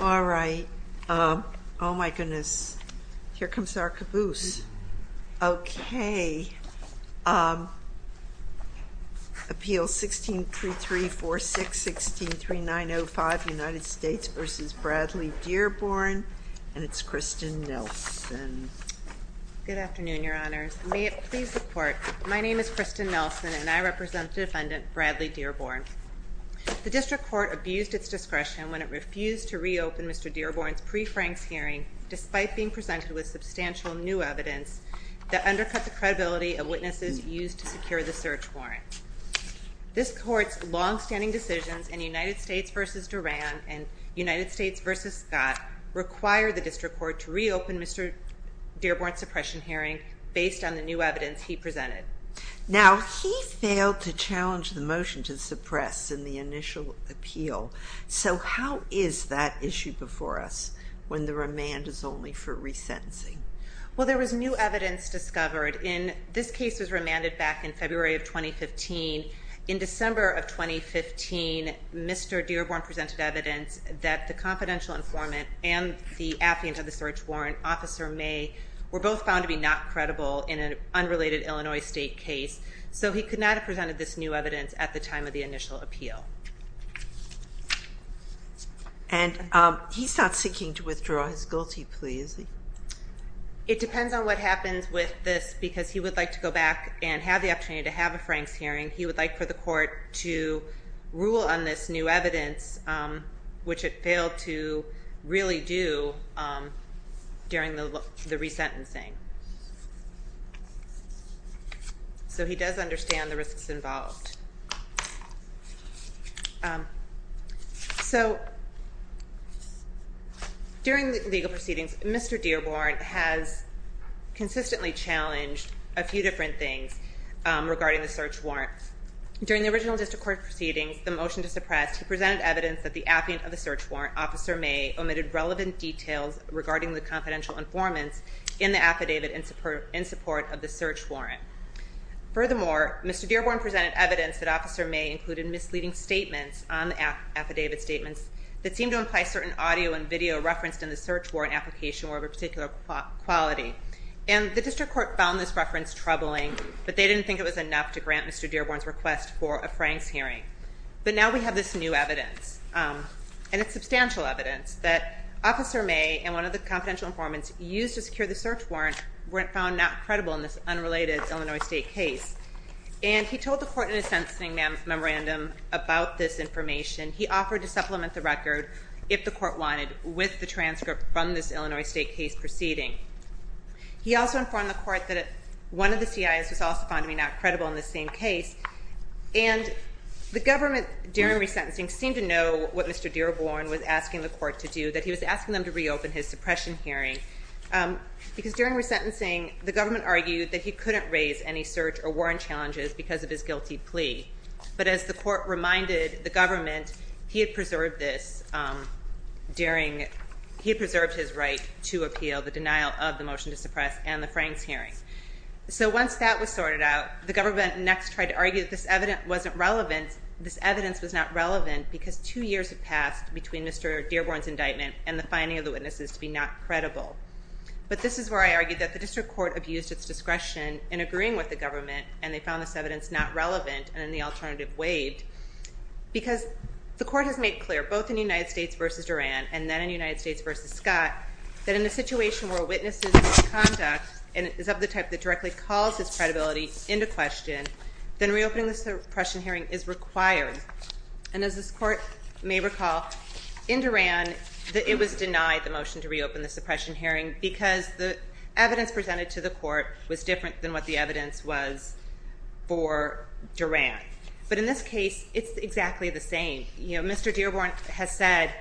All right. Oh, my goodness. Here comes our caboose. Okay. Appeal 163346-163905, United States v. Bradley Dearborn. And it's Kristen Nelson. Good afternoon, Your Honors. May it please the Court, my name is Kristen Nelson, and I represent the defendant, Bradley Dearborn. The District Court abused its discretion when it refused to reopen Mr. Dearborn's pre-Franks hearing, despite being presented with substantial new evidence that undercuts the credibility of witnesses used to secure the search warrant. This Court's longstanding decisions in United States v. Duran and United States v. Scott require the District Court to reopen Mr. Dearborn's suppression hearing based on the new evidence he presented. Now, he failed to challenge the motion to suppress in the initial appeal. So how is that issue before us when the remand is only for resentencing? Well, there was new evidence discovered. This case was remanded back in February of 2015. In December of 2015, Mr. Dearborn presented evidence that the confidential informant and the affluent of the search warrant, Officer May, were both found to be not credible in an unrelated Illinois state case. So he could not have presented this new evidence at the time of the initial appeal. And he's not seeking to withdraw his guilty plea, is he? It depends on what happens with this, because he would like to go back and have the opportunity to have a Franks hearing. He would like for the Court to rule on this new evidence, which it failed to really do during the resentencing. So he does understand the risks involved. So, during the legal proceedings, Mr. Dearborn has consistently challenged a few different things regarding the search warrant. During the original District Court proceedings, the motion to suppress, he presented evidence that the affluent of the search warrant, Officer May, omitted relevant details regarding the confidential informant in the affidavit in support of the search warrant. Furthermore, Mr. Dearborn presented evidence that Officer May included misleading statements on the affidavit statements that seemed to imply certain audio and video referenced in the search warrant application were of a particular quality. And the District Court found this reference troubling, but they didn't think it was enough to grant Mr. Dearborn's request for a Franks hearing. But now we have this new evidence, and it's substantial evidence, that Officer May and one of the confidential informants used to secure the search warrant were found not credible in this unrelated Illinois state case. And he told the court in a sentencing memorandum about this information. He offered to supplement the record, if the court wanted, with the transcript from this Illinois state case proceeding. He also informed the court that one of the C.I.S. was also found to be not credible in this same case. And the government, during resentencing, seemed to know what Mr. Dearborn was asking the court to do, that he was asking them to reopen his suppression hearing. Because during resentencing, the government argued that he couldn't raise any search or warrant challenges because of his guilty plea. But as the court reminded the government, he had preserved his right to appeal the denial of the motion to suppress and the Franks hearing. So once that was sorted out, the government next tried to argue that this evidence wasn't relevant. This evidence was not relevant because two years had passed between Mr. Dearborn's indictment and the finding of the witnesses to be not credible. But this is where I argued that the district court abused its discretion in agreeing with the government, and they found this evidence not relevant, and the alternative waived. Because the court has made clear, both in United States v. Duran, and then in United States v. Scott, that in a situation where witnesses' conduct is of the type that directly calls his credibility into question, then reopening the suppression hearing is required. And as this court may recall, in Duran, it was denied the motion to reopen the suppression hearing because the evidence presented to the court was different than what the evidence was for Duran. But in this case, it's exactly the same. Mr. Dearborn has said,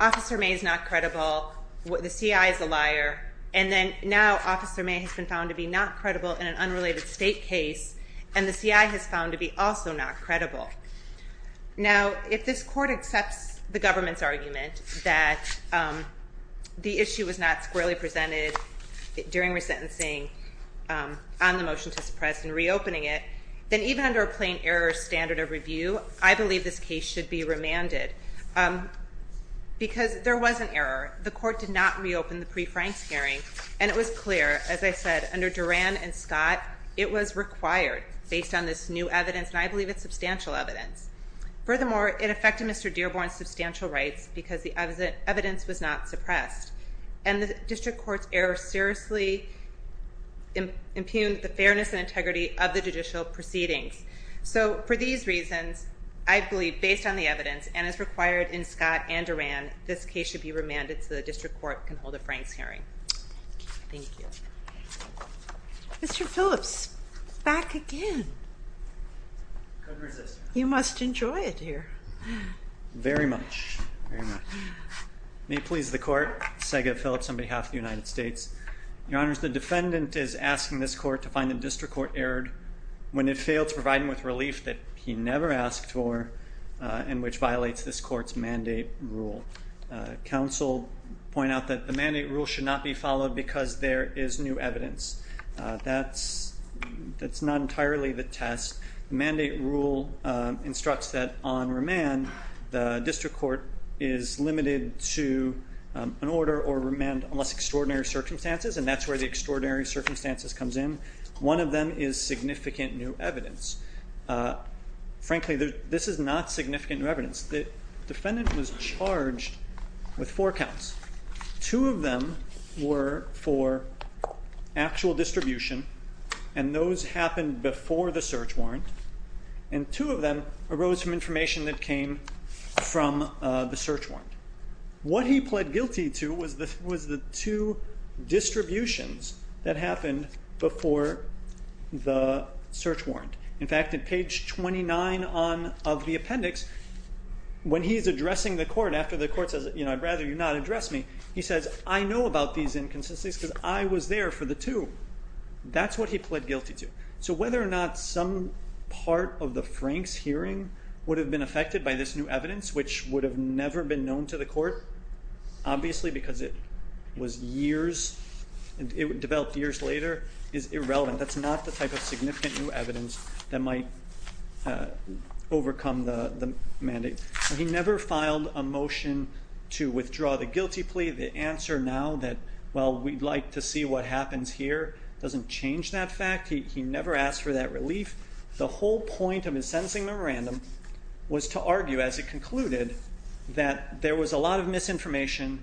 Officer May is not credible, the CI is a liar, and now Officer May has been found to be not credible in an unrelated state case, and the CI has been found to be also not credible. Now, if this court accepts the government's argument that the issue was not squarely presented during resentencing on the motion to suppress and reopening it, then even under a plain error standard of review, I believe this case should be remanded. Because there was an error. The court did not reopen the pre-Frank's hearing, and it was clear, as I said, under Duran and Scott, it was required based on this new evidence. And I believe it's substantial evidence. Furthermore, it affected Mr. Dearborn's substantial rights because the evidence was not suppressed. And the district court's error seriously impugned the fairness and integrity of the judicial proceedings. So for these reasons, I believe, based on the evidence, and as required in Scott and Duran, this case should be remanded so the district court can hold a Frank's hearing. Thank you. Mr. Phillips, back again. Couldn't resist. You must enjoy it here. Very much. Very much. May it please the court, Sega Phillips on behalf of the United States. Your Honors, the defendant is asking this court to find the district court erred when it failed to provide him with relief that he never asked for and which violates this court's mandate rule. Counsel point out that the mandate rule should not be followed because there is new evidence. That's not entirely the test. The mandate rule instructs that on remand, the district court is limited to an order or remand unless extraordinary circumstances, and that's where the extraordinary circumstances comes in. One of them is significant new evidence. Frankly, this is not significant new evidence. The defendant was charged with four counts. Two of them were for actual distribution, and those happened before the search warrant, and two of them arose from information that came from the search warrant. What he pled guilty to was the two distributions that happened before the search warrant. In fact, at page 29 of the appendix, when he's addressing the court after the court says, you know, I'd rather you not address me, he says, I know about these inconsistencies because I was there for the two. That's what he pled guilty to. So whether or not some part of the Franks hearing would have been affected by this new evidence, which would have never been known to the court, obviously because it was years, it developed years later, is irrelevant. That's not the type of significant new evidence that might overcome the mandate. He never filed a motion to withdraw the guilty plea. The answer now that, well, we'd like to see what happens here doesn't change that fact. He never asked for that relief. The whole point of his sentencing memorandum was to argue, as he concluded, that there was a lot of misinformation.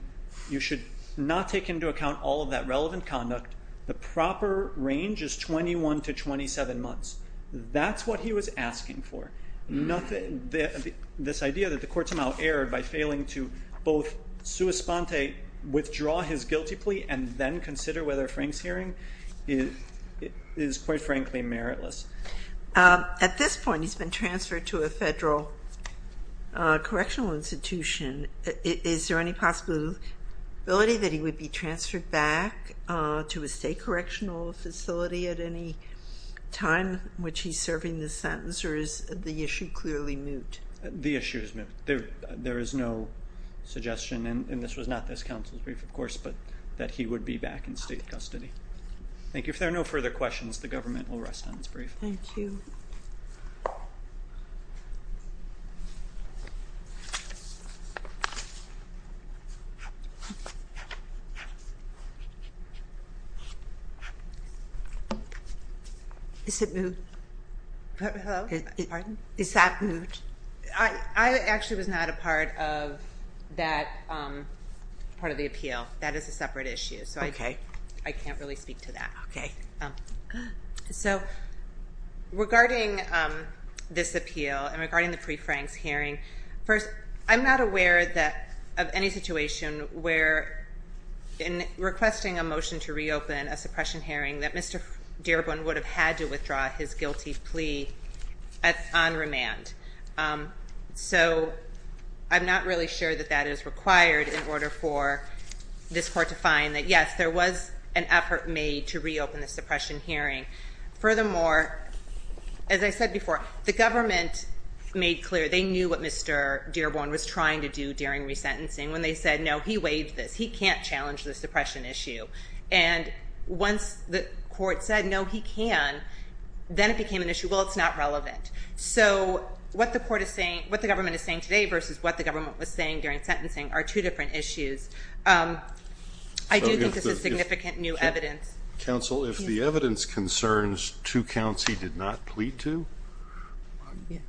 You should not take into account all of that relevant conduct. The proper range is 21 to 27 months. That's what he was asking for. This idea that the court somehow erred by failing to both sua sponte, withdraw his guilty plea, and then consider whether Frank's hearing is, quite frankly, meritless. At this point, he's been transferred to a federal correctional institution. Is there any possibility that he would be transferred back to a state correctional facility at any time in which he's serving this sentence, or is the issue clearly moot? The issue is moot. There is no suggestion, and this was not this counsel's brief, of course, but that he would be back in state custody. Thank you. If there are no further questions, the government will rest on its brief. Thank you. Is it moot? Hello? Pardon? Is that moot? I actually was not a part of that part of the appeal. That is a separate issue. Okay. I can't really speak to that. Okay. So, regarding this appeal and regarding the pre-Frank's hearing, first, I'm not aware of any situation where, in requesting a motion to reopen a suppression hearing, that Mr. Dearborn would have had to withdraw his guilty plea on remand. So, I'm not really sure that that is required in order for this court to find that, yes, there was an effort made to reopen the suppression hearing. Furthermore, as I said before, the government made clear they knew what Mr. Dearborn was trying to do during resentencing when they said, no, he waived this. He can't challenge the suppression issue. And once the court said, no, he can, then it became an issue, well, it's not relevant. So, what the government is saying today versus what the government was saying during sentencing are two different issues. I do think this is significant new evidence. Counsel, if the evidence concerns two counts he did not plead to,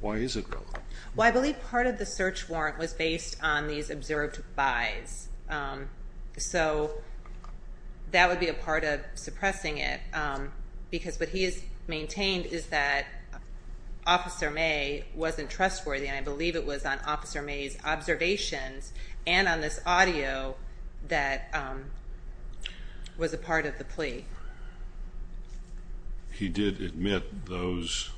why is it relevant? Well, I believe part of the search warrant was based on these observed buys. So, that would be a part of suppressing it. Because what he has maintained is that Officer May wasn't trustworthy, and I believe it was on Officer May's observations and on this audio that was a part of the plea. He did admit those.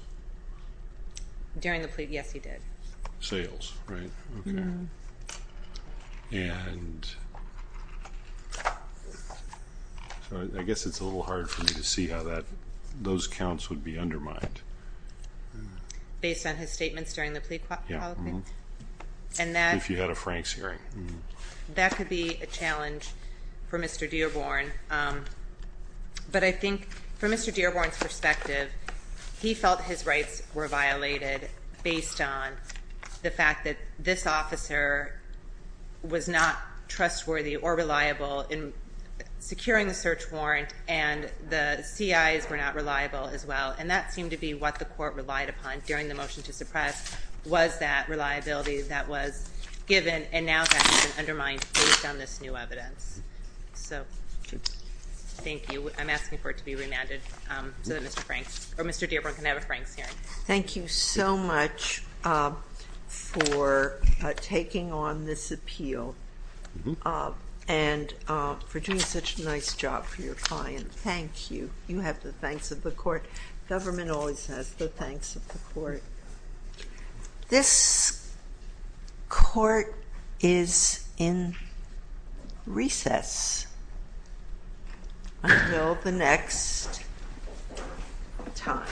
During the plea, yes, he did. Sales, right? Okay. And... I guess it's a little hard for me to see how those counts would be undermined. Based on his statements during the plea policy? Yeah. And that... If you had a Franks hearing. That could be a challenge for Mr. Dearborn. But I think from Mr. Dearborn's perspective, he felt his rights were violated based on the fact that this officer was not trustworthy or reliable in securing the search warrant, and the CIs were not reliable as well. And that seemed to be what the court relied upon during the motion to suppress was that reliability that was given and now that's been undermined based on this new evidence. So, thank you. I'm asking for it to be remanded so that Mr. Franks, or Mr. Dearborn can have a Franks hearing. Thank you so much for taking on this appeal and for doing such a nice job for your client. Thank you. You have the thanks of the court. Government always has the thanks of the court. This court is in recess until the next time.